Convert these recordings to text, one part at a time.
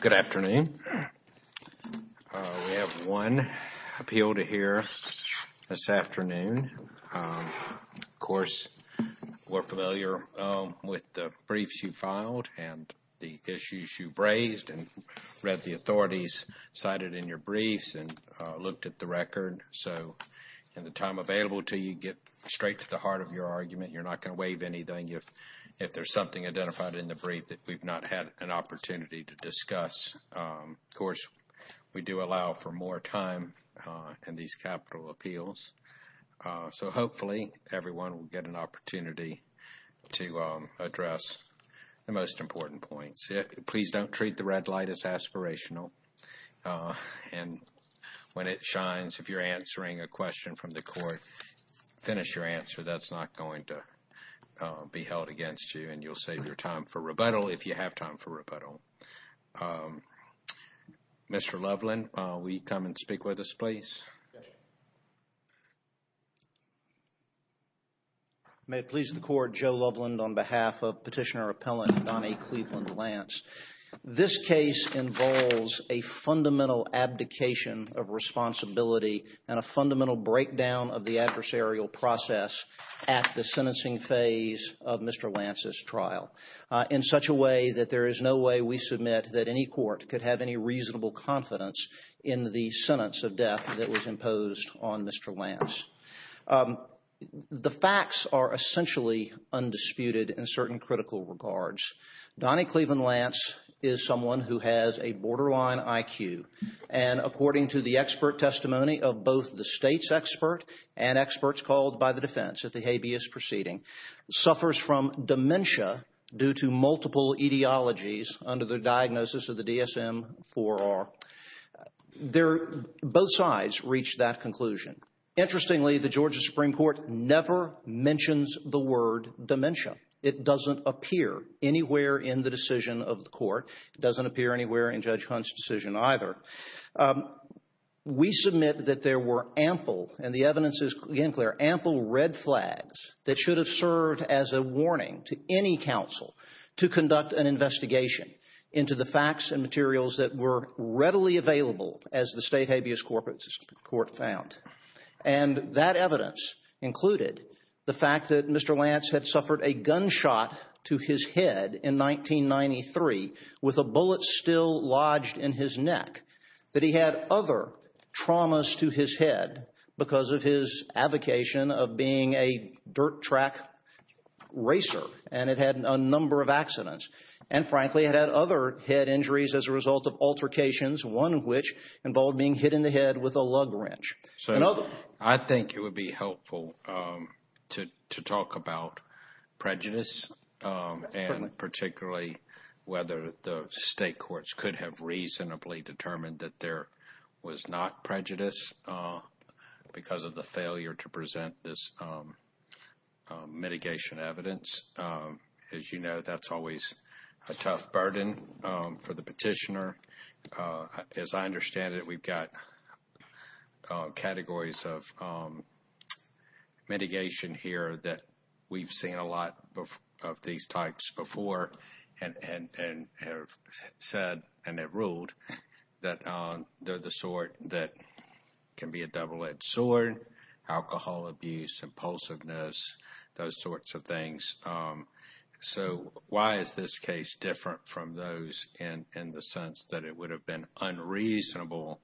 Good afternoon. We have one appeal to hear this afternoon. Of course, we're familiar with the briefs you filed and the issues you've raised and read the authorities cited in your briefs and looked at the record. So, in the time available to you, get straight to the heart of your argument. You're not going to waive anything if there's something identified in the brief that we've not had an opportunity to discuss. Of course, we do allow for more time in these capital appeals. So, hopefully, everyone will get an opportunity to address the most important points. Please don't treat the red light as aspirational. And when it shines, if you're answering a question from the court, finish your answer. That's not going to be held against you and you'll save your time for rebuttal if you have time for rebuttal. Mr. Loveland, will you come and speak with us, please? Yes, sir. The facts are essentially undisputed in certain critical regards. Donnie Cleveland Lance is someone who has a borderline IQ and, according to the expert testimony of both the state's expert and experts called by the defense at the habeas proceeding, suffers from dementia due to multiple etiologies under the diagnosis of the DSM-IV-R. Both sides reached that conclusion. Interestingly, the Georgia Supreme Court never mentions the word dementia. It doesn't appear anywhere in the decision of the court. It doesn't appear anywhere in Judge Hunt's decision either. We submit that there were ample, and the evidence is again clear, ample red flags that should have served as a warning to any counsel to conduct an investigation into the facts and materials that were readily available as the state habeas court found. And that evidence included the fact that Mr. Lance had suffered a gunshot to his head in 1993 with a bullet still lodged in his neck, that he had other traumas to his head because of his avocation of being a dirt track racer and it had a number of accidents, and frankly, it had other head injuries as a result of altercations, one of which involved being hit in the head with a lug wrench. I think it would be helpful to talk about prejudice and particularly whether the state courts could have reasonably determined that there was not prejudice because of the failure to present this mitigation evidence. As you know, that's always a tough burden for the petitioner. As I understand it, we've got categories of mitigation here that we've seen a lot of these types before and have said and have ruled that they're the sort that can be a double-edged sword, alcohol abuse, impulsiveness, those sorts of things. So why is this case different from those in the sense that it would have been unreasonable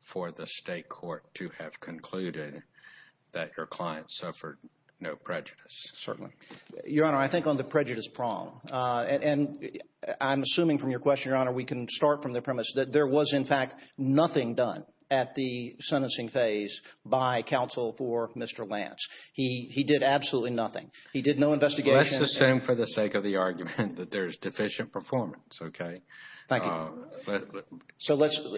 for the state court to have concluded that your client suffered no prejudice? Your Honor, I think on the prejudice prong, and I'm assuming from your question, Your Honor, we can start from the premise that there was, in fact, nothing done at the sentencing phase by counsel for Mr. Lance. He did absolutely nothing. He did no investigation. Let's assume for the sake of the argument that there's deficient performance, okay? Thank you.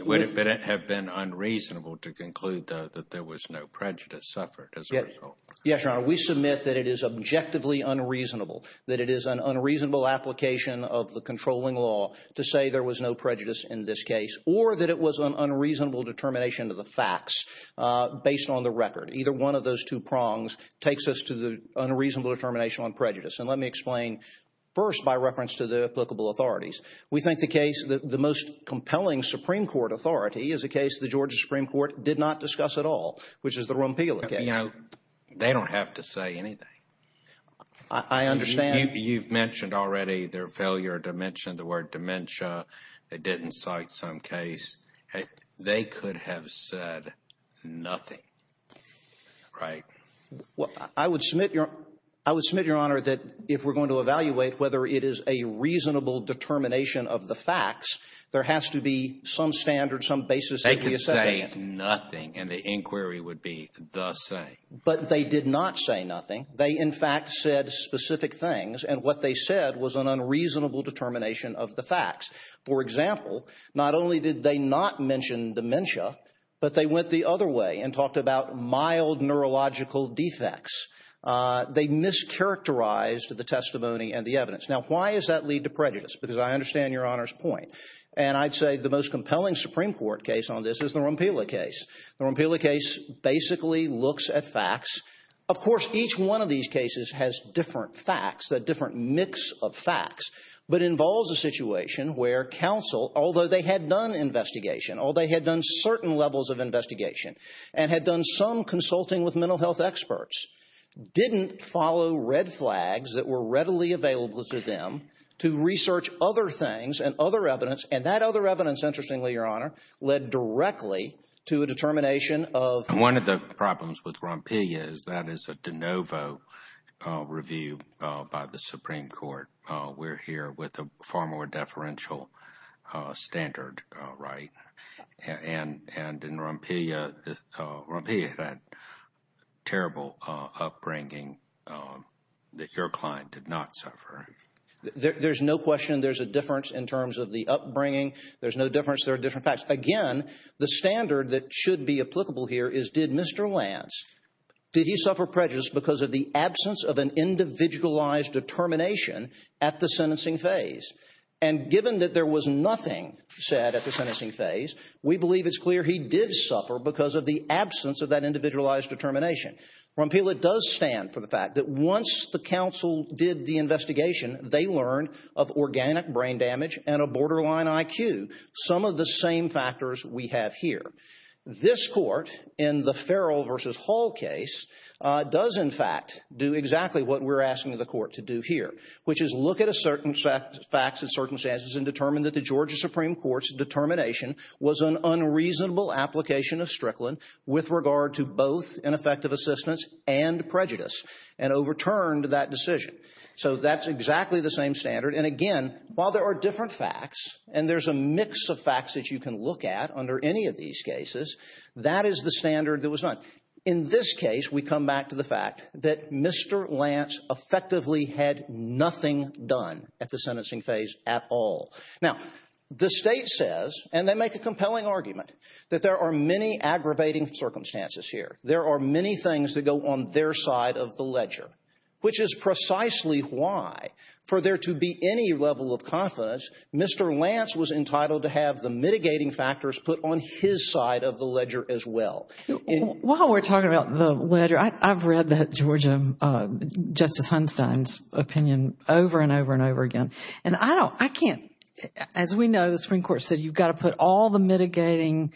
Would it have been unreasonable to conclude that there was no prejudice suffered as a result? Yes, Your Honor. We submit that it is objectively unreasonable, that it is an unreasonable application of the controlling law to say there was no prejudice in this case or that it was an unreasonable determination of the facts based on the record. Either one of those two prongs takes us to the unreasonable determination on prejudice. And let me explain first by reference to the applicable authorities. We think the case – the most compelling Supreme Court authority is a case the Georgia Supreme Court did not discuss at all, which is the Rompila case. They don't have to say anything. I understand. You've mentioned already their failure to mention the word dementia. They didn't cite some case. They could have said nothing, right? Well, I would submit, Your Honor, that if we're going to evaluate whether it is a reasonable determination of the facts, there has to be some standard, some basis that we assess against it. They did nothing, and the inquiry would be the same. But they did not say nothing. They, in fact, said specific things, and what they said was an unreasonable determination of the facts. For example, not only did they not mention dementia, but they went the other way and talked about mild neurological defects. They mischaracterized the testimony and the evidence. Now, why does that lead to prejudice? Because I understand Your Honor's point. And I'd say the most compelling Supreme Court case on this is the Rompila case. The Rompila case basically looks at facts. Of course, each one of these cases has different facts, a different mix of facts, but involves a situation where counsel, although they had done investigation, although they had done certain levels of investigation and had done some consulting with mental health experts, didn't follow red flags that were readily available to them to research other things and other evidence. And that other evidence, interestingly, Your Honor, led directly to a determination of… And one of the problems with Rompila is that is a de novo review by the Supreme Court. We're here with a far more deferential standard, right? And in Rompila, Rompila had terrible upbringing that your client did not suffer. There's no question there's a difference in terms of the upbringing. There's no difference. There are different facts. Again, the standard that should be applicable here is did Mr. Lance, did he suffer prejudice because of the absence of an individualized determination at the sentencing phase? And given that there was nothing said at the sentencing phase, we believe it's clear he did suffer because of the absence of that individualized determination. Rompila does stand for the fact that once the counsel did the investigation, they learned of organic brain damage and a borderline IQ, some of the same factors we have here. This court in the Farrell v. Hall case does, in fact, do exactly what we're asking the court to do here, which is look at a certain set of facts and circumstances and determine that the Georgia Supreme Court's determination was an unreasonable application of Strickland with regard to both ineffective assistance and prejudice and overturned that decision. So that's exactly the same standard. And again, while there are different facts and there's a mix of facts that you can look at under any of these cases, that is the standard that was done. In this case, we come back to the fact that Mr. Lance effectively had nothing done at the sentencing phase at all. Now, the State says, and they make a compelling argument, that there are many aggravating circumstances here. There are many things that go on their side of the ledger, which is precisely why, for there to be any level of confidence, Mr. Lance was entitled to have the mitigating factors put on his side of the ledger as well. While we're talking about the ledger, I've read that Georgia – Justice Hunstein's opinion over and over and over again. And I don't – I can't – as we know, the Supreme Court said you've got to put all the mitigating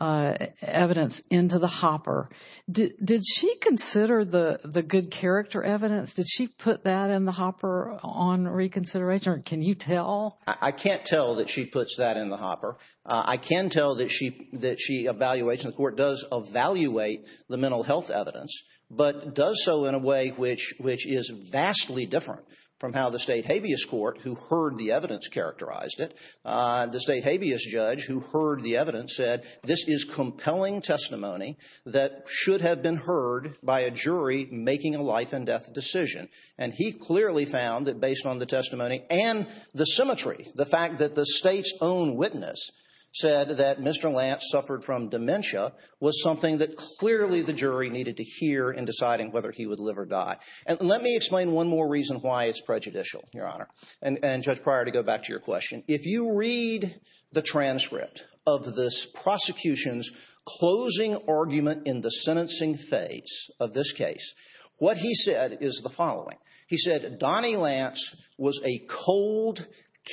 evidence into the hopper. Did she consider the good character evidence? Did she put that in the hopper on reconsideration, or can you tell? I can't tell that she puts that in the hopper. I can tell that she evaluates, and the Court does evaluate the mental health evidence, but does so in a way which is vastly different from how the State habeas court, who heard the evidence, characterized it. The State habeas judge, who heard the evidence, said this is compelling testimony that should have been heard by a jury making a life-and-death decision. And he clearly found that based on the testimony and the symmetry, the fact that the State's own witness said that Mr. Lance suffered from dementia was something that clearly the jury needed to hear in deciding whether he would live or die. And let me explain one more reason why it's prejudicial, Your Honor, and Judge Pryor, to go back to your question. If you read the transcript of this prosecution's closing argument in the sentencing phase of this case, what he said is the following. He said Donnie Lance was a cold,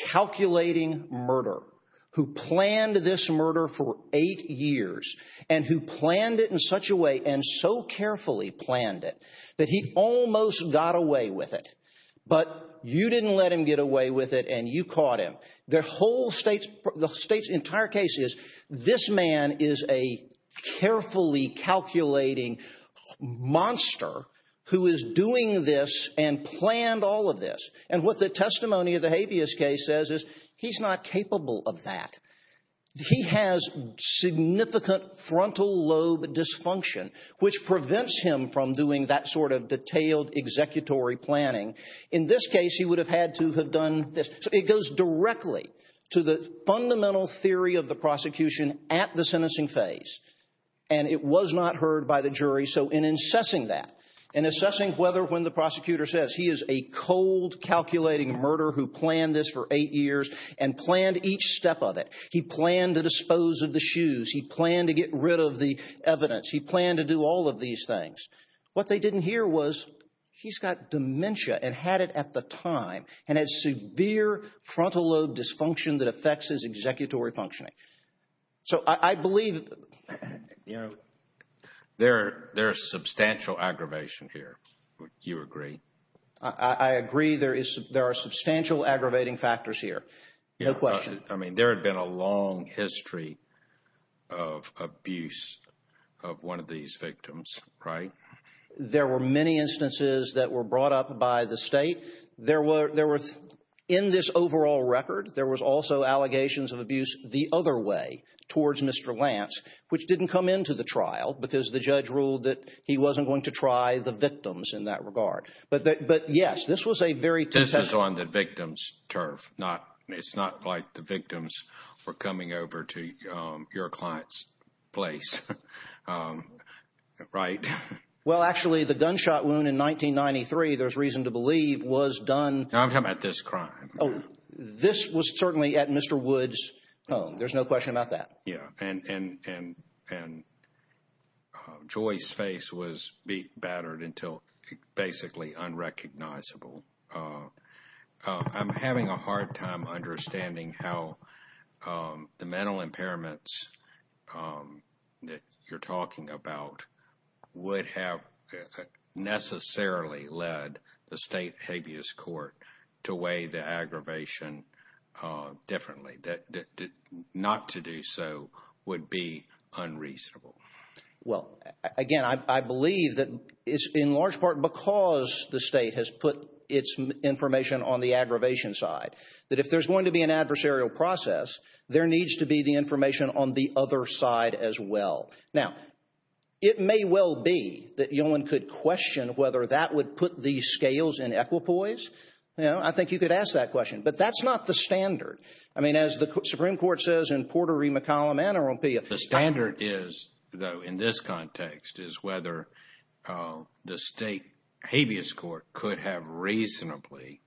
calculating murderer who planned this murder for eight years and who planned it in such a way and so carefully planned it that he almost got away with it. But you didn't let him get away with it, and you caught him. The whole State's entire case is this man is a carefully calculating monster who is doing this and planned all of this. And what the testimony of the habeas case says is he's not capable of that. He has significant frontal lobe dysfunction, which prevents him from doing that sort of detailed executory planning. In this case, he would have had to have done this. So it goes directly to the fundamental theory of the prosecution at the sentencing phase, and it was not heard by the jury. So in assessing that, in assessing whether when the prosecutor says he is a cold, calculating murderer who planned this for eight years and planned each step of it. He planned to dispose of the shoes. He planned to get rid of the evidence. He planned to do all of these things. What they didn't hear was he's got dementia and had it at the time and has severe frontal lobe dysfunction that affects his executory functioning. So I believe, you know, there's substantial aggravation here. Do you agree? I agree there are substantial aggravating factors here. No question. I mean, there had been a long history of abuse of one of these victims, right? There were many instances that were brought up by the State. In this overall record, there was also allegations of abuse the other way towards Mr. Lance, which didn't come into the trial because the judge ruled that he wasn't going to try the victims in that regard. But, yes, this was a very… This was on the victim's turf. It's not like the victims were coming over to your client's place, right? Well, actually, the gunshot wound in 1993, there's reason to believe, was done… I'm talking about this crime. Oh, this was certainly at Mr. Woods' home. There's no question about that. Yeah. And Joy's face was battered until basically unrecognizable. I'm having a hard time understanding how the mental impairments that you're talking about would have necessarily led the state habeas court to weigh the aggravation differently. Not to do so would be unreasonable. Well, again, I believe that it's in large part because the state has put its information on the aggravation side, that if there's going to be an adversarial process, there needs to be the information on the other side as well. Now, it may well be that Yolen could question whether that would put these scales in equipoise. I think you could ask that question. But that's not the standard. I mean, as the Supreme Court says in Porter v. McCallum, NROP… The standard is, though, in this context, is whether the state habeas court could have reasonably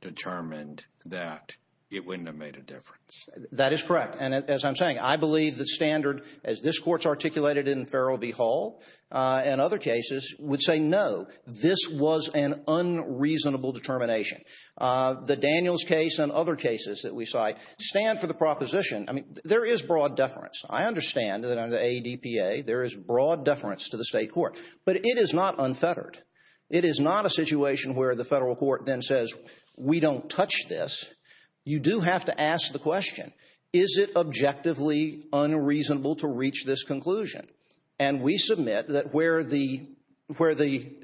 determined that it wouldn't have made a difference. That is correct. And as I'm saying, I believe the standard, as this court's articulated in Farrell v. Hall and other cases, would say, no, this was an unreasonable determination. The Daniels case and other cases that we cite stand for the proposition. I mean, there is broad deference. I understand that under the ADPA, there is broad deference to the state court. But it is not unfettered. It is not a situation where the federal court then says, we don't touch this. You do have to ask the question, is it objectively unreasonable to reach this conclusion? And we submit that where the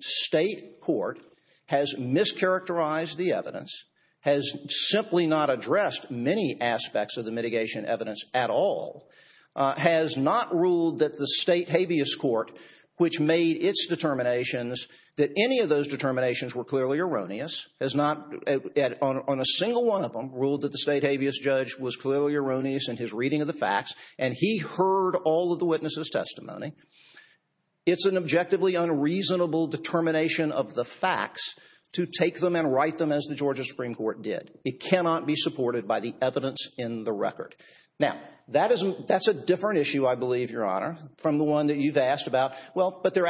state court has mischaracterized the evidence, has simply not addressed many aspects of the mitigation evidence at all, has not ruled that the state habeas court, which made its determinations, that any of those determinations were clearly erroneous, has not, on a single one of them, ruled that the state habeas judge was clearly erroneous in his reading of the facts, and he heard all of the witnesses' testimony. It's an objectively unreasonable determination of the facts to take them and write them as the Georgia Supreme Court did. It cannot be supported by the evidence in the record. Now, that's a different issue, I believe, Your Honor, from the one that you've asked about. Well, but there's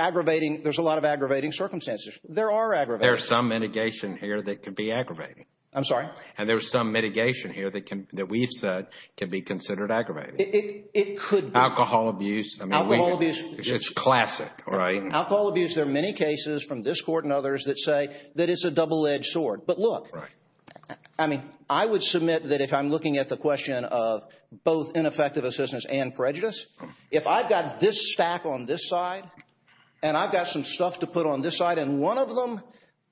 a lot of aggravating circumstances. There are aggravating circumstances. There's some mitigation here that could be aggravating. I'm sorry? And there's some mitigation here that we've said could be considered aggravating. It could be. Alcohol abuse. Alcohol abuse. It's classic, right? Alcohol abuse, there are many cases from this court and others that say that it's a double-edged sword. But look, I mean, I would submit that if I'm looking at the question of both ineffective assistance and prejudice, if I've got this stack on this side and I've got some stuff to put on this side and one of them,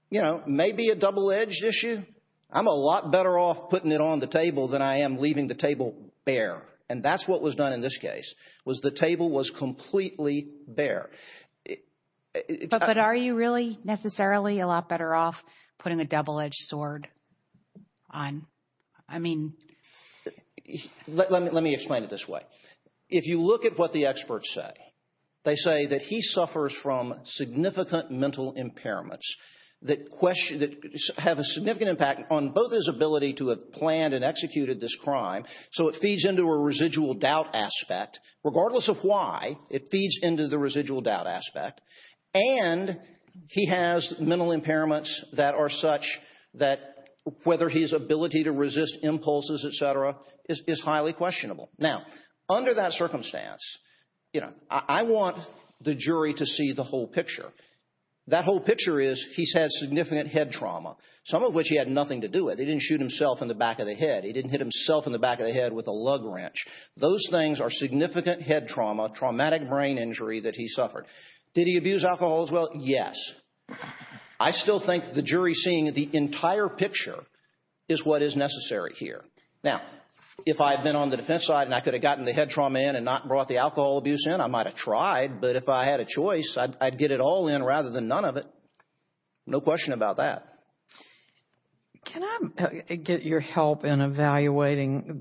you know, may be a double-edged issue, I'm a lot better off putting it on the table than I am leaving the table bare. And that's what was done in this case, was the table was completely bare. But are you really necessarily a lot better off putting a double-edged sword on? I mean. Let me explain it this way. If you look at what the experts say, they say that he suffers from significant mental impairments that have a significant impact on both his ability to have planned and executed this crime, so it feeds into a residual doubt aspect. Regardless of why, it feeds into the residual doubt aspect. And he has mental impairments that are such that whether his ability to resist impulses, et cetera, is highly questionable. Now, under that circumstance, you know, I want the jury to see the whole picture. That whole picture is he's had significant head trauma, some of which he had nothing to do with. He didn't shoot himself in the back of the head. He didn't hit himself in the back of the head with a lug wrench. Those things are significant head trauma, traumatic brain injury that he suffered. Did he abuse alcohol as well? Yes. I still think the jury seeing the entire picture is what is necessary here. Now, if I had been on the defense side and I could have gotten the head trauma in and not brought the alcohol abuse in, I might have tried, but if I had a choice, I'd get it all in rather than none of it. No question about that. Can I get your help in evaluating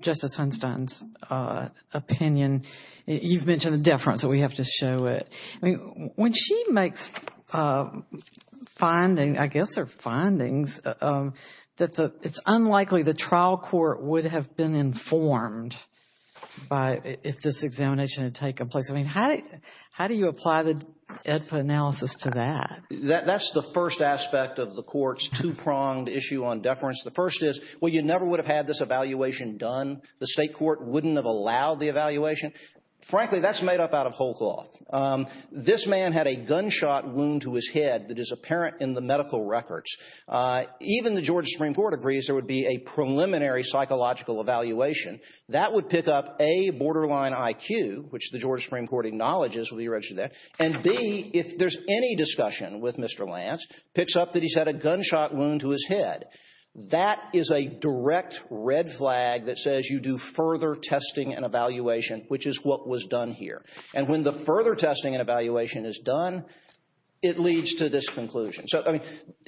Justice Sunstein's opinion? You've mentioned the deference, so we have to show it. When she makes findings, I guess they're findings, that it's unlikely the trial court would have been informed if this examination had taken place. I mean, how do you apply the AEDPA analysis to that? That's the first aspect of the court's two-pronged issue on deference. The first is, well, you never would have had this evaluation done. Frankly, that's made up out of whole cloth. This man had a gunshot wound to his head that is apparent in the medical records. Even the Georgia Supreme Court agrees there would be a preliminary psychological evaluation. That would pick up, A, borderline IQ, which the Georgia Supreme Court acknowledges will be registered there, and, B, if there's any discussion with Mr. Lance, picks up that he's had a gunshot wound to his head. That is a direct red flag that says you do further testing and evaluation, which is what was done here. And when the further testing and evaluation is done, it leads to this conclusion. So, I mean,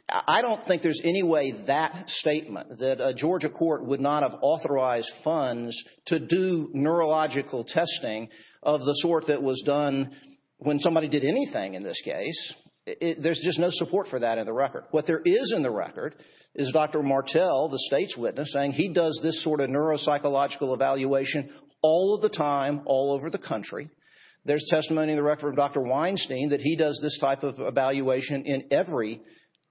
I don't think there's any way that statement, that a Georgia court would not have authorized funds to do neurological testing of the sort that was done when somebody did anything in this case. There's just no support for that in the record. What there is in the record is Dr. Martell, the state's witness, saying he does this sort of neuropsychological evaluation all of the time, all over the country. There's testimony in the record from Dr. Weinstein that he does this type of evaluation in every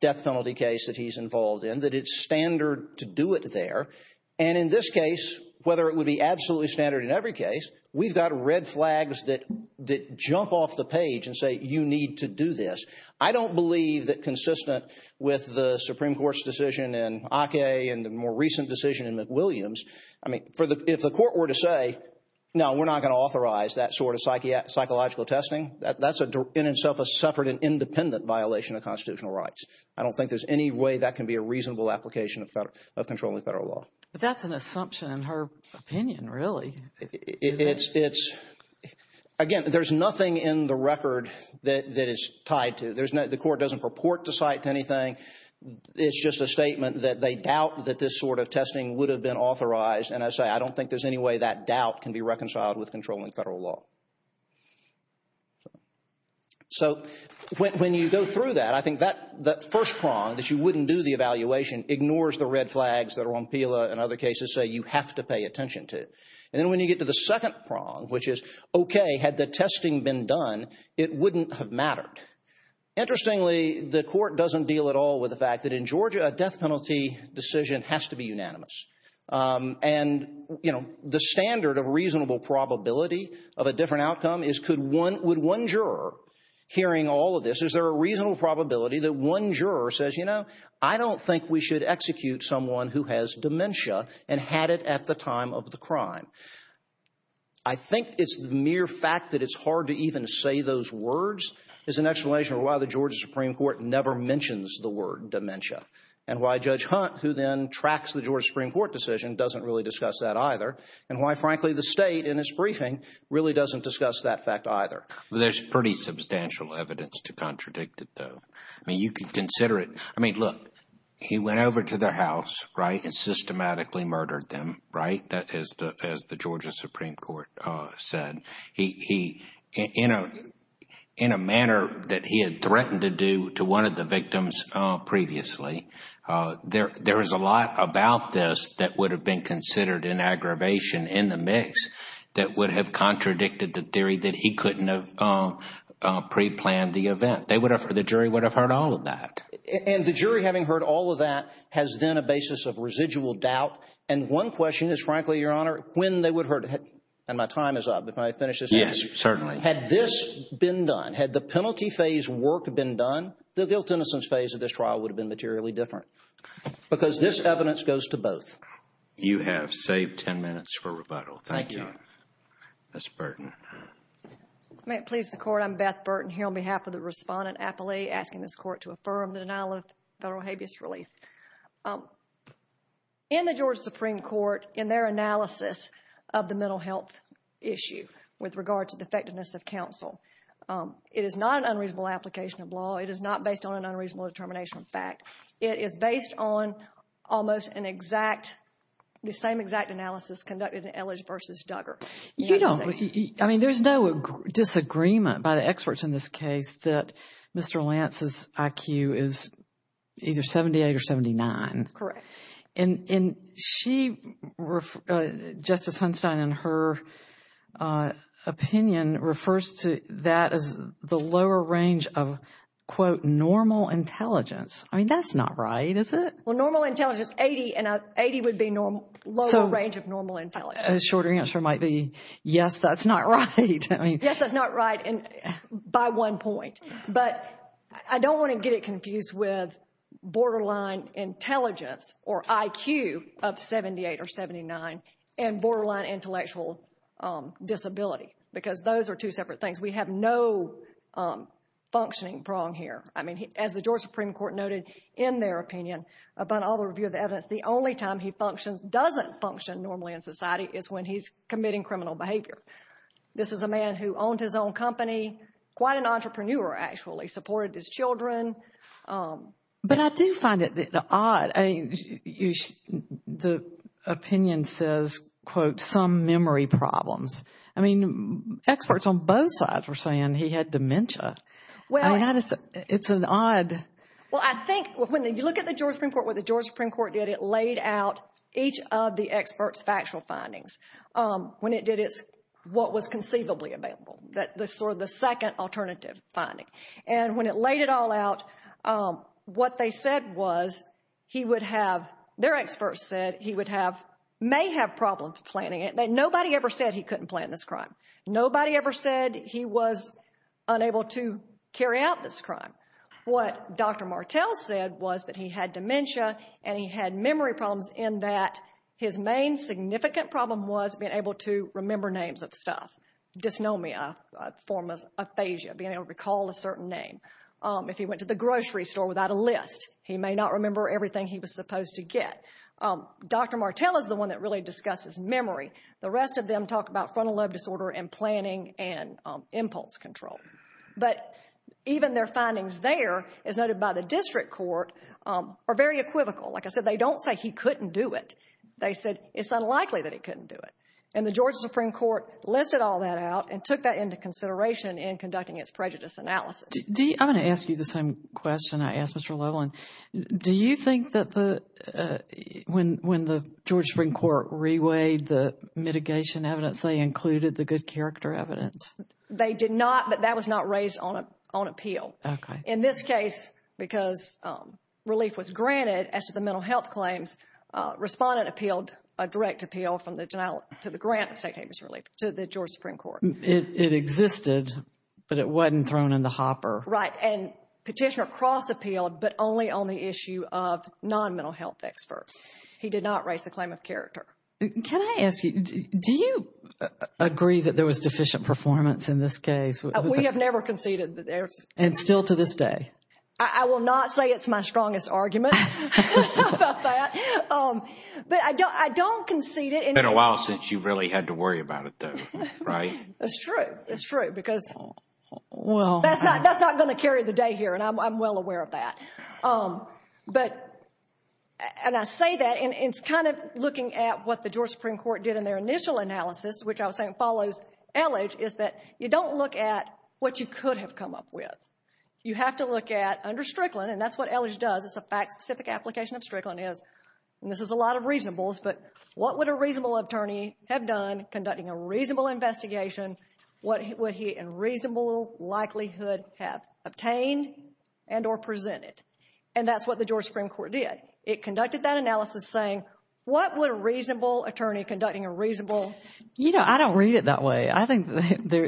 death penalty case that he's involved in, that it's standard to do it there. And in this case, whether it would be absolutely standard in every case, we've got red flags that jump off the page and say you need to do this. I don't believe that consistent with the Supreme Court's decision in Ake and the more recent decision in McWilliams, I mean, if the court were to say, no, we're not going to authorize that sort of psychological testing, that's in itself a separate and independent violation of constitutional rights. I don't think there's any way that can be a reasonable application of controlling federal law. But that's an assumption in her opinion, really. It's, again, there's nothing in the record that is tied to. The court doesn't purport to cite anything. It's just a statement that they doubt that this sort of testing would have been authorized. And I say I don't think there's any way that doubt can be reconciled with controlling federal law. So when you go through that, I think that first prong, that you wouldn't do the evaluation, ignores the red flags that are on PILA and other cases say you have to pay attention to. And then when you get to the second prong, which is, okay, had the testing been done, it wouldn't have mattered. Interestingly, the court doesn't deal at all with the fact that in Georgia a death penalty decision has to be unanimous. And, you know, the standard of reasonable probability of a different outcome is could one, would one juror hearing all of this, is there a reasonable probability that one juror says, you know, I don't think we should execute someone who has dementia and had it at the time of the crime. I think it's mere fact that it's hard to even say those words is an explanation of why the Georgia Supreme Court never mentions the word dementia and why Judge Hunt, who then tracks the Georgia Supreme Court decision, doesn't really discuss that either and why, frankly, the state in its briefing really doesn't discuss that fact either. There's pretty substantial evidence to contradict it, though. I mean, you can consider it. I mean, look, he went over to their house, right, and systematically murdered them, right, as the Georgia Supreme Court said. He, in a manner that he had threatened to do to one of the victims previously, there is a lot about this that would have been considered an aggravation in the mix that would have contradicted the theory that he couldn't have preplanned the event. The jury would have heard all of that. And the jury, having heard all of that, has then a basis of residual doubt. And one question is, frankly, Your Honor, when they would have heard it. And my time is up. If I finish this up. Yes, certainly. Had this been done, had the penalty phase work been done, the guilt-innocence phase of this trial would have been materially different because this evidence goes to both. You have saved 10 minutes for rebuttal. Thank you. Ms. Burton. May it please the Court. I'm Beth Burton here on behalf of the respondent appellee asking this Court to affirm the denial of federal habeas relief. In the Georgia Supreme Court, in their analysis of the mental health issue with regard to the effectiveness of counsel, it is not an unreasonable application of law. It is not based on an unreasonable determination of fact. It is based on almost an exact, the same exact analysis conducted in Elledge v. Duggar. I mean, there's no disagreement by the experts in this case that Mr. Lance's IQ is either 78 or 79. Correct. And Justice Hunstein, in her opinion, refers to that as the lower range of, quote, normal intelligence. I mean, that's not right, is it? Well, normal intelligence, 80, and 80 would be lower range of normal intelligence. A shorter answer might be yes, that's not right. Yes, that's not right by one point. But I don't want to get it confused with borderline intelligence or IQ of 78 or 79 and borderline intellectual disability because those are two separate things. We have no functioning prong here. I mean, as the Georgia Supreme Court noted in their opinion, upon all the review of the evidence, the only time he functions, doesn't function normally in society is when he's committing criminal behavior. This is a man who owned his own company, quite an entrepreneur actually, supported his children. But I do find it odd. The opinion says, quote, some memory problems. I mean, experts on both sides were saying he had dementia. I mean, it's an odd. Well, I think when you look at the Georgia Supreme Court, what the Georgia Supreme Court did, it laid out each of the experts' factual findings. When it did, it's what was conceivably available. That's sort of the second alternative finding. And when it laid it all out, what they said was he would have, their experts said, he would have, may have problems planning it. Nobody ever said he couldn't plan this crime. Nobody ever said he was unable to carry out this crime. What Dr. Martell said was that he had dementia and he had memory problems in that his main significant problem was being able to remember names of stuff. Dysnomia, a form of aphasia, being able to recall a certain name. If he went to the grocery store without a list, he may not remember everything he was supposed to get. Dr. Martell is the one that really discusses memory. The rest of them talk about frontal lobe disorder and planning and impulse control. But even their findings there, as noted by the district court, are very equivocal. Like I said, they don't say he couldn't do it. They said it's unlikely that he couldn't do it. And the Georgia Supreme Court listed all that out and took that into consideration in conducting its prejudice analysis. I'm going to ask you the same question I asked Mr. Lowland. Do you think that when the Georgia Supreme Court reweighed the mitigation evidence, they included the good character evidence? They did not, but that was not raised on appeal. Okay. In this case, because relief was granted as to the mental health claims, respondent appealed a direct appeal from the denial to the grant to the Georgia Supreme Court. It existed, but it wasn't thrown in the hopper. Right. And petitioner cross-appealed, but only on the issue of non-mental health experts. He did not raise the claim of character. Can I ask you, do you agree that there was deficient performance in this case? We have never conceded. And still to this day? I will not say it's my strongest argument about that. But I don't concede it. It's been a while since you really had to worry about it, though, right? That's true. That's true, because that's not going to carry the day here, and I'm well aware of that. And I say that, and it's kind of looking at what the Georgia Supreme Court did in their initial analysis, which I was saying follows Elledge, is that you don't look at what you could have come up with. You have to look at, under Strickland, and that's what Elledge does, it's a fact-specific application of Strickland, and this is a lot of reasonables, but what would a reasonable attorney have done conducting a reasonable investigation? What would he in reasonable likelihood have obtained and or presented? And that's what the Georgia Supreme Court did. It conducted that analysis saying, what would a reasonable attorney conducting a reasonable? You know, I don't read it that way. I think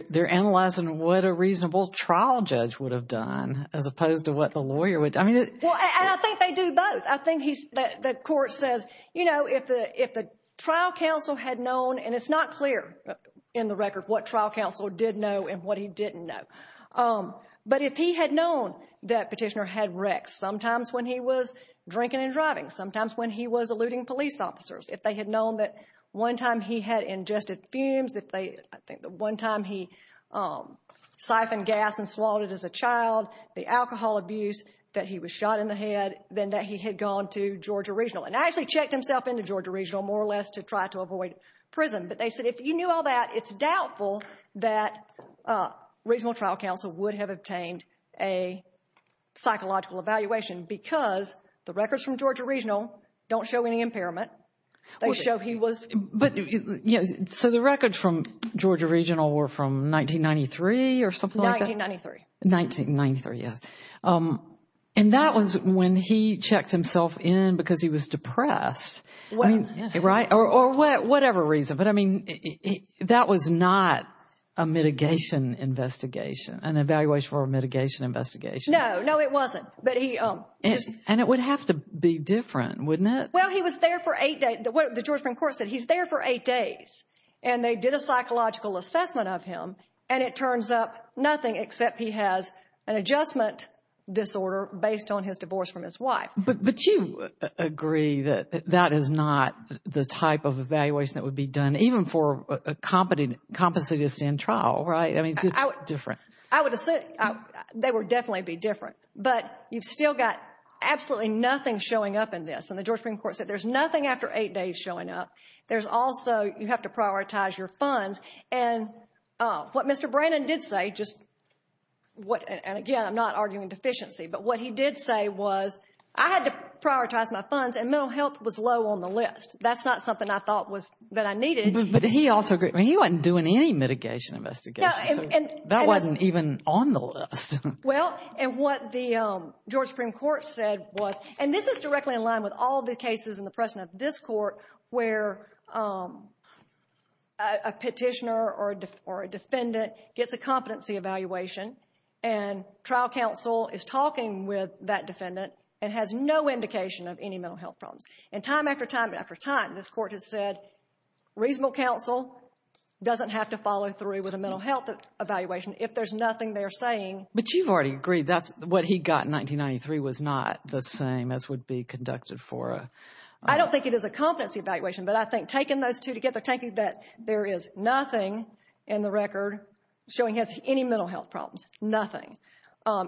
they're analyzing what a reasonable trial judge would have done as opposed to what the lawyer would. Well, and I think they do both. I think the court says, you know, if the trial counsel had known, and it's not clear in the record what trial counsel did know and what he didn't know, but if he had known that Petitioner had wrecks, sometimes when he was drinking and driving, sometimes when he was eluding police officers, if they had known that one time he had ingested fumes, if they, I think the one time he siphoned gas and swallowed it as a child, the alcohol abuse that he was shot in the head, then that he had gone to Georgia Regional. And actually checked himself into Georgia Regional more or less to try to avoid prison. But they said if you knew all that, it's doubtful that reasonable trial counsel would have obtained a psychological evaluation because the records from Georgia Regional don't show any impairment. They show he was. So the records from Georgia Regional were from 1993 or something like that? 1993. 1993, yes. And that was when he checked himself in because he was depressed, right? Or whatever reason. But, I mean, that was not a mitigation investigation, an evaluation for a mitigation investigation. No, no, it wasn't. And it would have to be different, wouldn't it? Well, he was there for eight days. The George Brown court said he's there for eight days, and they did a psychological assessment of him, and it turns up nothing except he has an adjustment disorder based on his divorce from his wife. But you agree that that is not the type of evaluation that would be done even for a compensated stand trial, right? I mean, it's different. I would assume they would definitely be different. But you've still got absolutely nothing showing up in this. And the George Brown court said there's nothing after eight days showing up. There's also you have to prioritize your funds. And what Mr. Brannon did say, and, again, I'm not arguing deficiency, but what he did say was I had to prioritize my funds, and mental health was low on the list. That's not something I thought that I needed. But he also, I mean, he wasn't doing any mitigation investigations. That wasn't even on the list. Well, and what the George Supreme Court said was, And this is directly in line with all the cases in the precedent of this court where a petitioner or a defendant gets a competency evaluation, and trial counsel is talking with that defendant and has no indication of any mental health problems. And time after time after time, this court has said reasonable counsel doesn't have to follow through with a mental health evaluation if there's nothing they're saying. But you've already agreed that what he got in 1993 was not the same as would be conducted for a... I don't think it is a competency evaluation, but I think taking those two together, taking that there is nothing in the record showing any mental health problems, nothing,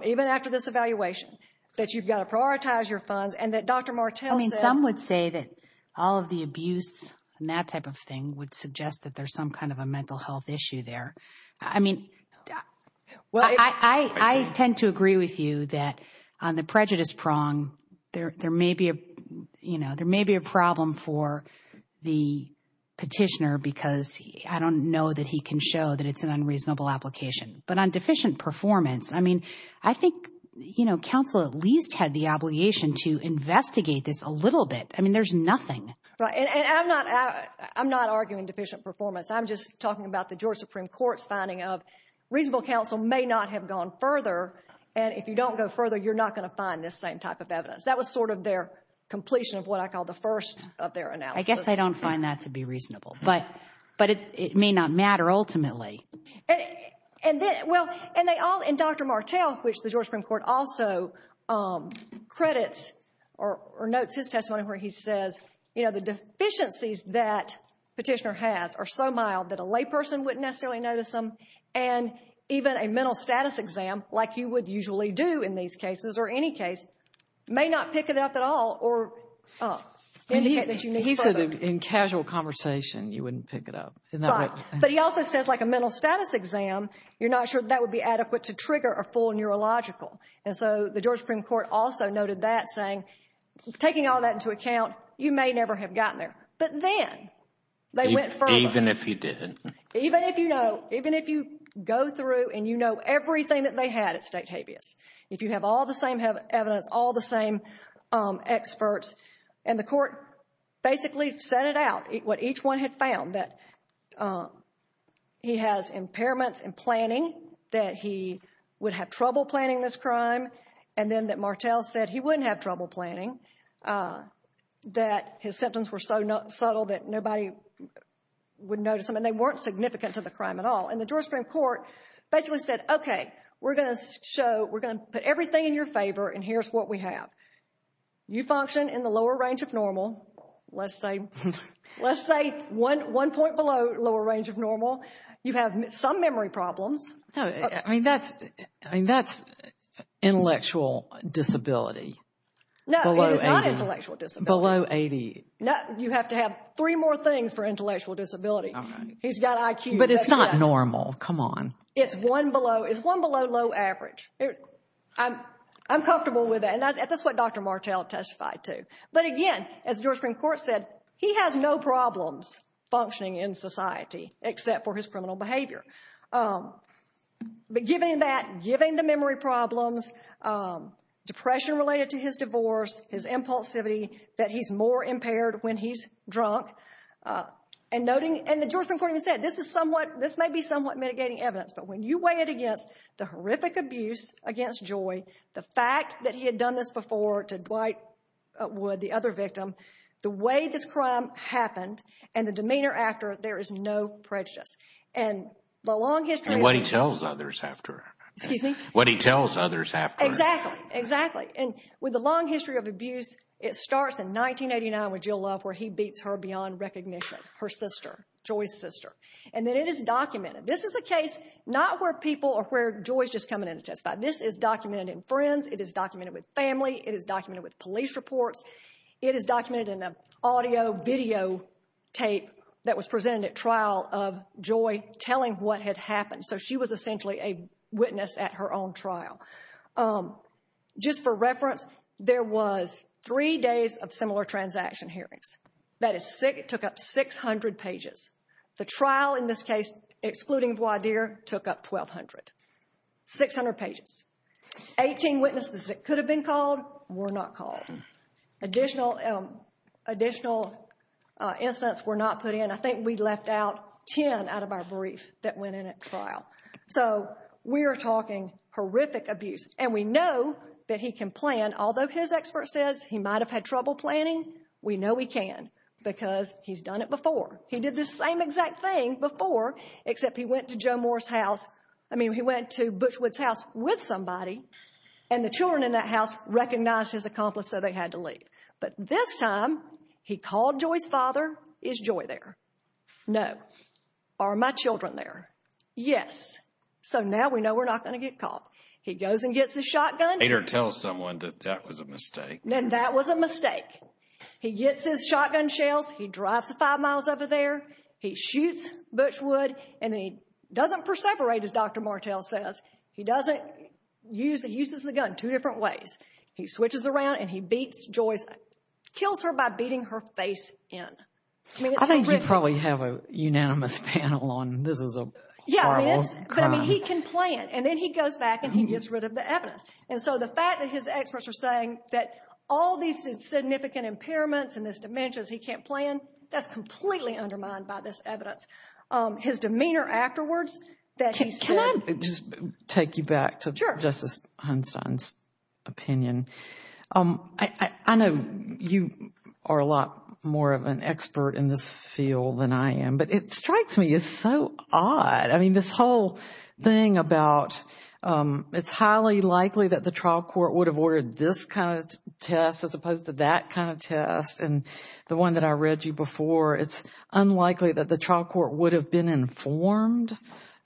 even after this evaluation, that you've got to prioritize your funds, and that Dr. Martel said... I mean, some would say that all of the abuse and that type of thing would suggest that there's some kind of a mental health issue there. I mean, I tend to agree with you that on the prejudice prong, there may be a problem for the petitioner because I don't know that he can show that it's an unreasonable application. But on deficient performance, I mean, I think counsel at least had the obligation to investigate this a little bit. I mean, there's nothing. I'm not arguing deficient performance. I'm just talking about the Georgia Supreme Court's finding of reasonable counsel may not have gone further, and if you don't go further, you're not going to find this same type of evidence. That was sort of their completion of what I call the first of their analysis. I guess I don't find that to be reasonable, but it may not matter ultimately. And Dr. Martel, which the Georgia Supreme Court also credits or notes his testimony where he says, you know, the deficiencies that petitioner has are so mild that a layperson wouldn't necessarily notice them, and even a mental status exam like you would usually do in these cases or any case may not pick it up at all or indicate that you need further. He said in casual conversation, you wouldn't pick it up. But he also says like a mental status exam, you're not sure that would be adequate to trigger a full neurological. And so the Georgia Supreme Court also noted that saying, taking all that into account, you may never have gotten there. But then they went further. Even if you didn't. Even if you know, even if you go through and you know everything that they had at state habeas, if you have all the same evidence, all the same experts, and the court basically set it out, what each one had found, that he has impairments in planning, that he would have trouble planning this crime, and then that Martel said he wouldn't have trouble planning, that his symptoms were so subtle that nobody would notice them, and they weren't significant to the crime at all. And the Georgia Supreme Court basically said, okay, we're going to show, we're going to put everything in your favor, and here's what we have. You function in the lower range of normal. Let's say one point below lower range of normal. You have some memory problems. I mean, that's intellectual disability. No, it is not intellectual disability. Below 80. You have to have three more things for intellectual disability. He's got IQ. But it's not normal. Come on. It's one below low average. I'm comfortable with that, and that's what Dr. Martel testified to. But again, as the Georgia Supreme Court said, he has no problems functioning in society except for his criminal behavior. But given that, given the memory problems, depression related to his divorce, his impulsivity, that he's more impaired when he's drunk, and noting, and the Georgia Supreme Court even said, this is somewhat, this may be somewhat mitigating evidence, but when you weigh it against the horrific abuse against Joy, the fact that he had done this before to Dwight Wood, the other victim, the way this crime happened and the demeanor after, there is no prejudice. And the long history of abuse. And what he tells others after. Excuse me? What he tells others after. Exactly. Exactly. And with the long history of abuse, it starts in 1989 with Jill Love where he beats her beyond recognition, her sister, Joy's sister. And then it is documented. This is a case not where people or where Joy's just coming in to testify. This is documented in friends. It is documented with family. It is documented with police reports. It is documented in an audio, video tape that was presented at trial of Joy telling what had happened. So she was essentially a witness at her own trial. Just for reference, there was three days of similar transaction hearings. That is, it took up 600 pages. The trial in this case, excluding Dwight Deere, took up 1,200, 600 pages. Eighteen witnesses that could have been called were not called. Additional incidents were not put in. I think we left out ten out of our brief that went in at trial. So we are talking horrific abuse. And we know that he can plan. Although his expert says he might have had trouble planning, we know he can because he's done it before. He did the same exact thing before except he went to Joe Moore's house. I mean he went to Butchwood's house with somebody. And the children in that house recognized his accomplice so they had to leave. But this time he called Joy's father. Is Joy there? No. Are my children there? Yes. So now we know we're not going to get called. He goes and gets his shotgun. Later tells someone that that was a mistake. And that was a mistake. He gets his shotgun shells. He drives five miles over there. He shoots Butchwood. And he doesn't perseverate, as Dr. Martell says. He uses the gun two different ways. He switches around and he beats Joy. Kills her by beating her face in. I think you probably have a unanimous panel on this is a horrible crime. Yeah, I mean he can plan. And then he goes back and he gets rid of the evidence. And so the fact that his experts are saying that all these significant impairments and this dementia is he can't plan, that's completely undermined by this evidence. His demeanor afterwards that he said. Can I just take you back to Justice Hunstein's opinion? I know you are a lot more of an expert in this field than I am, but it strikes me as so odd. I mean this whole thing about it's highly likely that the trial court would have ordered this kind of test as opposed to that kind of test and the one that I read you before. It's unlikely that the trial court would have been informed,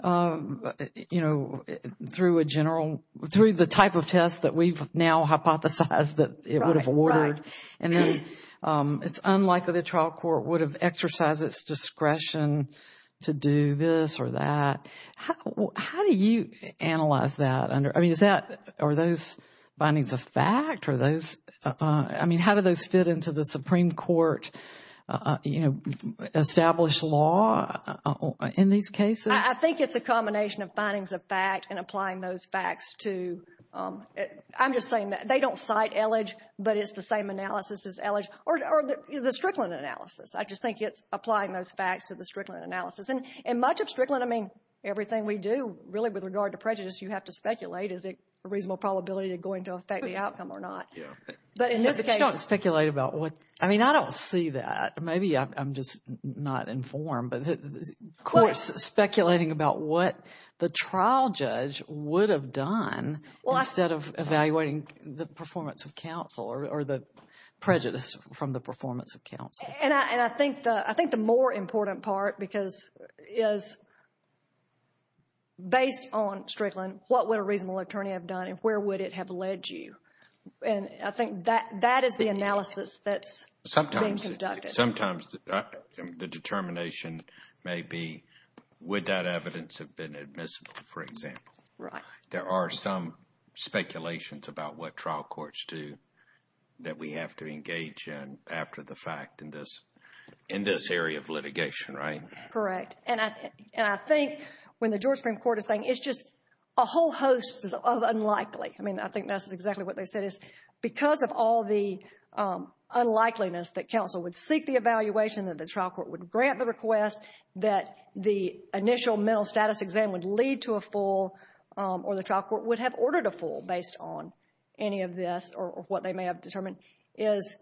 you know, through a general, through the type of test that we've now hypothesized that it would have ordered. And then it's unlikely the trial court would have exercised its discretion to do this or that. How do you analyze that? I mean is that, are those findings a fact? Are those, I mean how do those fit into the Supreme Court, you know, established law in these cases? I think it's a combination of findings of fact and applying those facts to, I'm just saying that they don't cite ellage but it's the same analysis as ellage or the Strickland analysis. I just think it's applying those facts to the Strickland analysis. And much of Strickland, I mean everything we do really with regard to prejudice you have to speculate is it a reasonable probability going to affect the outcome or not. But in this case. You don't have to speculate about what, I mean I don't see that. Maybe I'm just not informed but of course speculating about what the trial judge would have done instead of evaluating the performance of counsel or the prejudice from the performance of counsel. And I think the more important part because is based on Strickland, what would a reasonable attorney have done and where would it have led you? And I think that is the analysis that's being conducted. Sometimes the determination may be would that evidence have been admissible, for example. Right. There are some speculations about what trial courts do that we have to engage in after the fact in this area of litigation, right? Correct. And I think when the George Supreme Court is saying it's just a whole host of unlikely, I mean I think that's exactly what they said is because of all the unlikeliness that counsel would seek the evaluation that the trial court would grant the request that the initial mental status exam would lead to a full or the trial court would have ordered a full based on any of this or what they may have determined is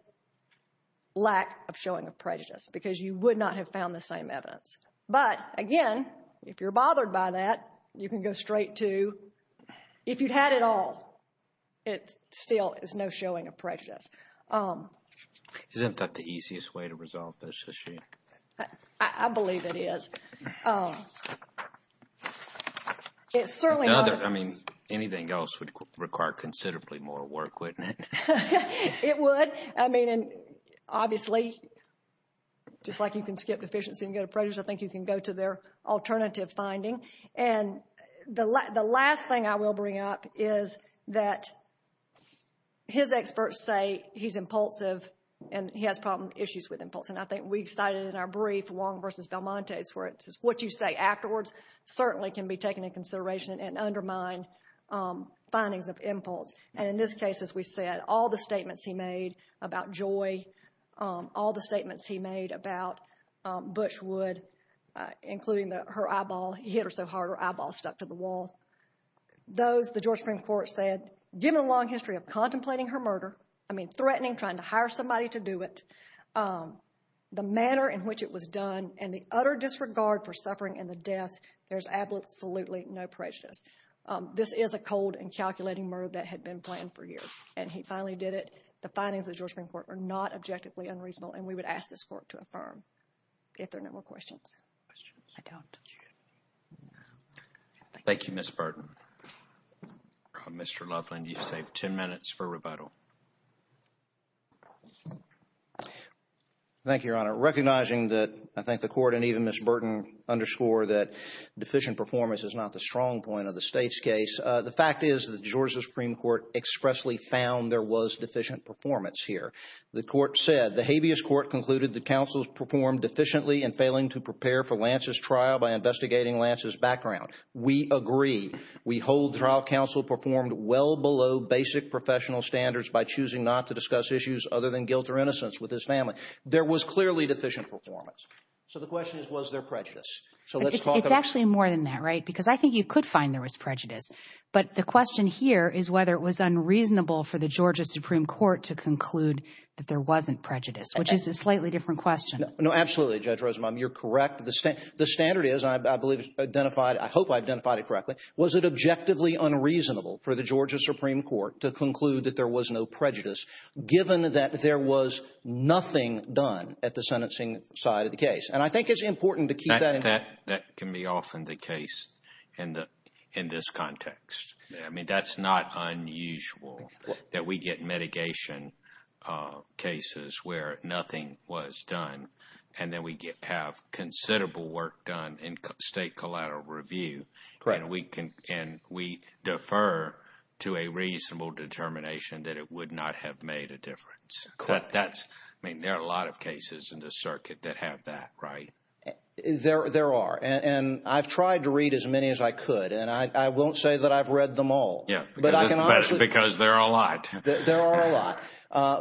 lack of showing of prejudice because you would not have found the same evidence. But again, if you're bothered by that, you can go straight to if you had it all, it still is no showing of prejudice. Isn't that the easiest way to resolve this issue? I believe it is. I mean, anything else would require considerably more work, wouldn't it? It would. I mean, obviously, just like you can skip deficiency and go to prejudice, I think you can go to their alternative finding. And the last thing I will bring up is that his experts say he's impulsive and he has problem issues with impulse. And I think we've cited in our brief Wong v. Valmontes where it's just what you say afterwards certainly can be taken into consideration and undermine findings of impulse. And in this case, as we said, all the statements he made about joy, all the statements he made about Butch Wood, including her eyeball, he hit her so hard her eyeball stuck to the wall. Those, the Georgia Supreme Court said, given a long history of contemplating her murder, I mean threatening trying to hire somebody to do it, the manner in which it was done and the utter disregard for suffering and the deaths, there's absolutely no prejudice. This is a cold and calculating murder that had been planned for years. And he finally did it. The findings of the Georgia Supreme Court are not objectively unreasonable, and we would ask this court to affirm if there are no more questions. Questions? I don't. Thank you, Ms. Burton. Mr. Loveland, you've saved 10 minutes for rebuttal. Thank you, Your Honor. Recognizing that I think the court and even Ms. Burton underscore that deficient performance is not the strong point of the state's case, the fact is the Georgia Supreme Court expressly found there was deficient performance here. The court said, the habeas court concluded the counsels performed efficiently in failing to prepare for Lance's trial by investigating Lance's background. We agree. We hold trial counsel performed well below basic professional standards by choosing not to discuss issues other than guilt or innocence with his family. There was clearly deficient performance. So the question is, was there prejudice? It's actually more than that, right? Because I think you could find there was prejudice. But the question here is whether it was unreasonable for the Georgia Supreme Court to conclude that there wasn't prejudice, which is a slightly different question. No, absolutely, Judge Rosenbaum. You're correct. The standard is, and I believe it's identified, I hope I've identified it correctly, was it objectively unreasonable for the Georgia Supreme Court to conclude that there was no prejudice given that there was nothing done at the sentencing side of the case? And I think it's important to keep that in mind. That can be often the case in this context. I mean, that's not unusual that we get mitigation cases where nothing was done and then we have considerable work done in state collateral review and we defer to a reasonable determination that it would not have made a difference. I mean, there are a lot of cases in this circuit that have that, right? There are. And I've tried to read as many as I could, and I won't say that I've read them all. Because there are a lot. There are a lot.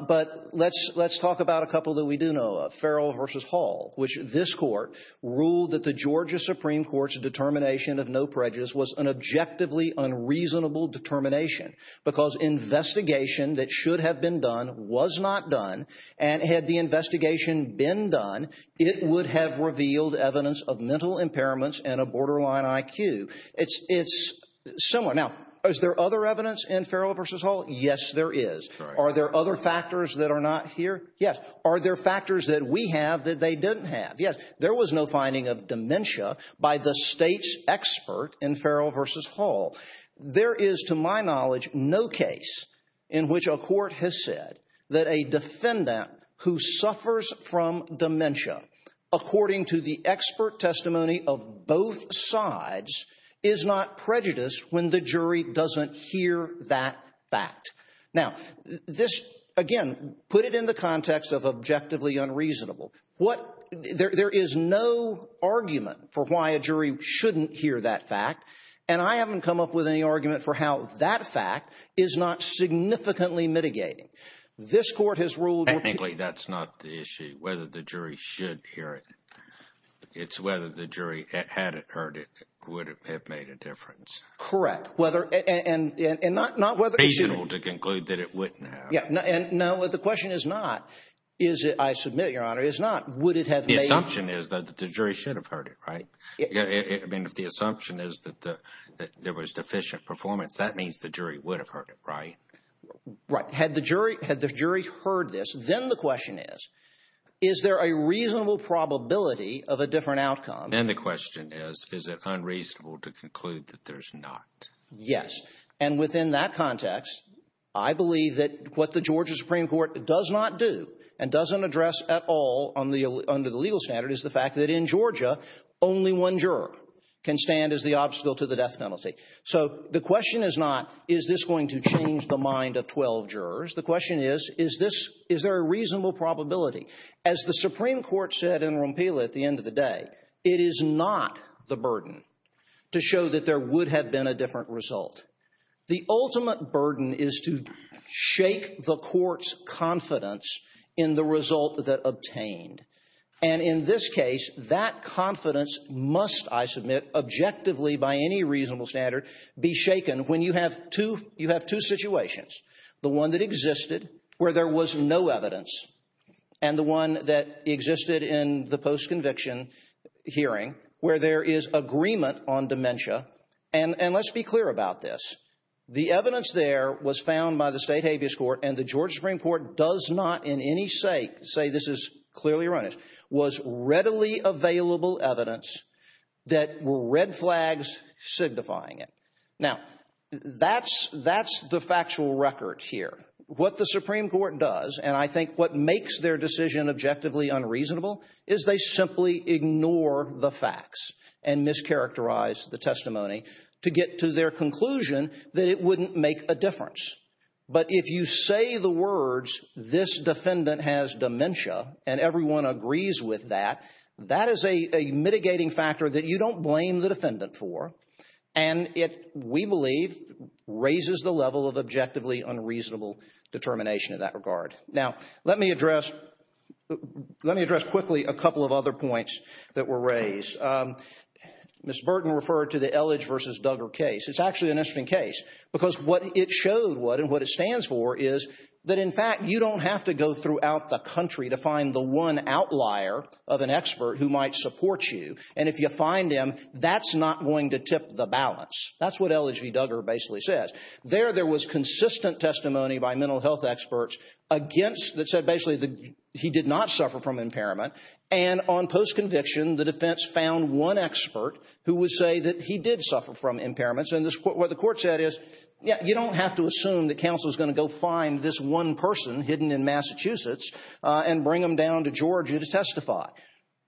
But let's talk about a couple that we do know of, Farrell v. Hall, which this court ruled that the Georgia Supreme Court's determination of no prejudice was an objectively unreasonable determination because investigation that should have been done was not done, and had the investigation been done, it would have revealed evidence of mental impairments and a borderline IQ. It's similar. Now, is there other evidence in Farrell v. Hall? Yes, there is. Are there other factors that are not here? Yes. Are there factors that we have that they didn't have? There was no finding of dementia by the state's expert in Farrell v. Hall. There is, to my knowledge, no case in which a court has said that a defendant who suffers from dementia, according to the expert testimony of both sides, is not prejudiced when the jury doesn't hear that fact. Now, this, again, put it in the context of objectively unreasonable. There is no argument for why a jury shouldn't hear that fact, and I haven't come up with any argument for how that fact is not significantly mitigating. This court has ruled— Frankly, that's not the issue, whether the jury should hear it. It's whether the jury, had it heard it, would have made a difference. Correct. And not whether— It's reasonable to conclude that it wouldn't have. No, the question is not, I submit, Your Honor, is not would it have made a difference. The assumption is that the jury should have heard it, right? I mean, if the assumption is that there was deficient performance, that means the jury would have heard it, right? Right. Had the jury heard this, then the question is, is there a reasonable probability of a different outcome? Then the question is, is it unreasonable to conclude that there's not? Yes. And within that context, I believe that what the Georgia Supreme Court does not do and doesn't address at all under the legal standard is the fact that in Georgia, only one juror can stand as the obstacle to the death penalty. So the question is not, is this going to change the mind of 12 jurors? The question is, is there a reasonable probability? As the Supreme Court said in Rompila at the end of the day, it is not the burden to show that there would have been a different result. The ultimate burden is to shake the court's confidence in the result that obtained. And in this case, that confidence must, I submit, objectively by any reasonable standard, be shaken when you have two situations, the one that existed where there was no evidence and the one that existed in the post-conviction hearing where there is agreement on dementia. And let's be clear about this. The evidence there was found by the state habeas court, and the Georgia Supreme Court does not in any say, say this is clearly erroneous, was readily available evidence that were red flags signifying it. Now, that's the factual record here. What the Supreme Court does, and I think what makes their decision objectively unreasonable, is they simply ignore the facts and mischaracterize the testimony to get to their conclusion that it wouldn't make a difference. But if you say the words, this defendant has dementia and everyone agrees with that, that is a mitigating factor that you don't blame the defendant for, and it, we believe, raises the level of objectively unreasonable determination in that regard. Now, let me address, let me address quickly a couple of other points that were raised. Ms. Burton referred to the Elledge v. Duggar case. It's actually an interesting case because what it showed was, and what it stands for, is that in fact you don't have to go throughout the country to find the one outlier of an expert who might support you, and if you find him, that's not going to tip the balance. That's what Elledge v. Duggar basically says. There, there was consistent testimony by mental health experts against, that said basically he did not suffer from impairment, and on post-conviction the defense found one expert who would say that he did suffer from impairments, and what the court said is, yeah, you don't have to assume that counsel is going to go find this one person hidden in Massachusetts and bring him down to Georgia to testify.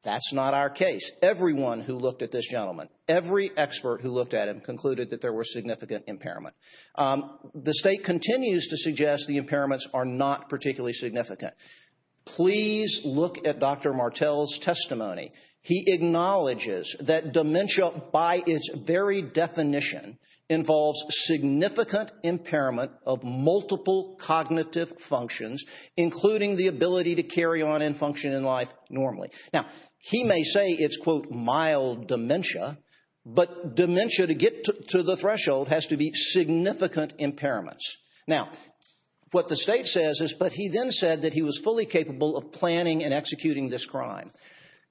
That's not our case. Everyone who looked at this gentleman, every expert who looked at him, the state continues to suggest the impairments are not particularly significant. Please look at Dr. Martel's testimony. He acknowledges that dementia, by its very definition, involves significant impairment of multiple cognitive functions, including the ability to carry on and function in life normally. Now he may say it's, quote, mild dementia, but dementia to get to the threshold has to be significant impairments. Now, what the state says is, but he then said that he was fully capable of planning and executing this crime.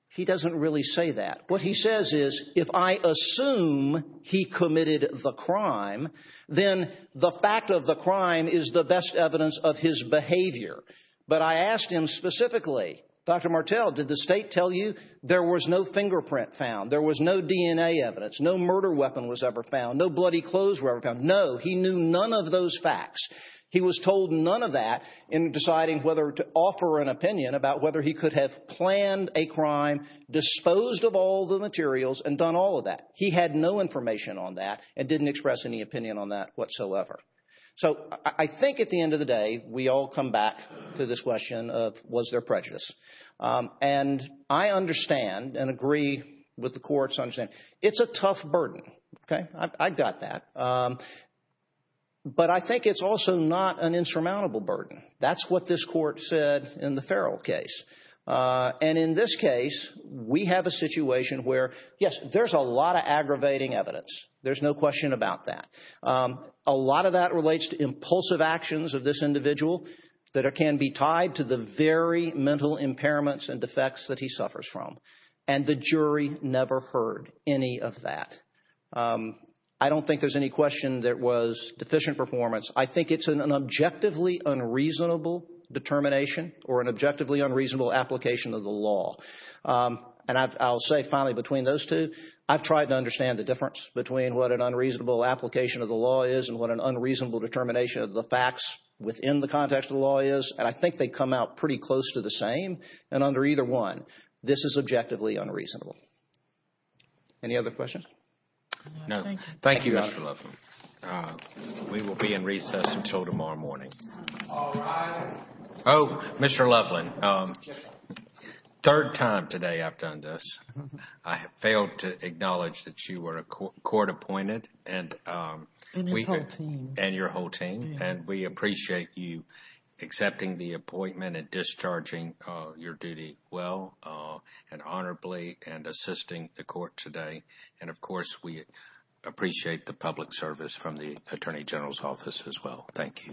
He doesn't really say that. What he says is, if I assume he committed the crime, then the fact of the crime is the best evidence of his behavior. But I asked him specifically, Dr. Martel, did the state tell you there was no fingerprint found, there was no DNA evidence, no murder weapon was ever found, no bloody clothes were ever found? No, he knew none of those facts. He was told none of that in deciding whether to offer an opinion about whether he could have planned a crime, disposed of all the materials, and done all of that. He had no information on that and didn't express any opinion on that whatsoever. So I think at the end of the day, we all come back to this question of was there prejudice. And I understand and agree with the court's understanding. It's a tough burden. I've got that. But I think it's also not an insurmountable burden. That's what this court said in the Farrell case. And in this case, we have a situation where, yes, there's a lot of aggravating evidence. There's no question about that. A lot of that relates to impulsive actions of this individual that can be tied to the very mental impairments and defects that he suffers from. And the jury never heard any of that. I don't think there's any question there was deficient performance. I think it's an objectively unreasonable determination or an objectively unreasonable application of the law. And I'll say finally between those two, I've tried to understand the difference between what an unreasonable application of the law is and what an unreasonable determination of the facts within the context of the law is. And I think they come out pretty close to the same. And under either one, this is objectively unreasonable. Any other questions? No, thank you, Mr. Loveland. We will be in recess until tomorrow morning. All rise. Oh, Mr. Loveland, third time today I've done this. I failed to acknowledge that you were court appointed. And his whole team. And your whole team. And we appreciate you accepting the appointment and discharging your duty well and honorably and assisting the court today. And, of course, we appreciate the public service from the Attorney General's office as well. Thank you.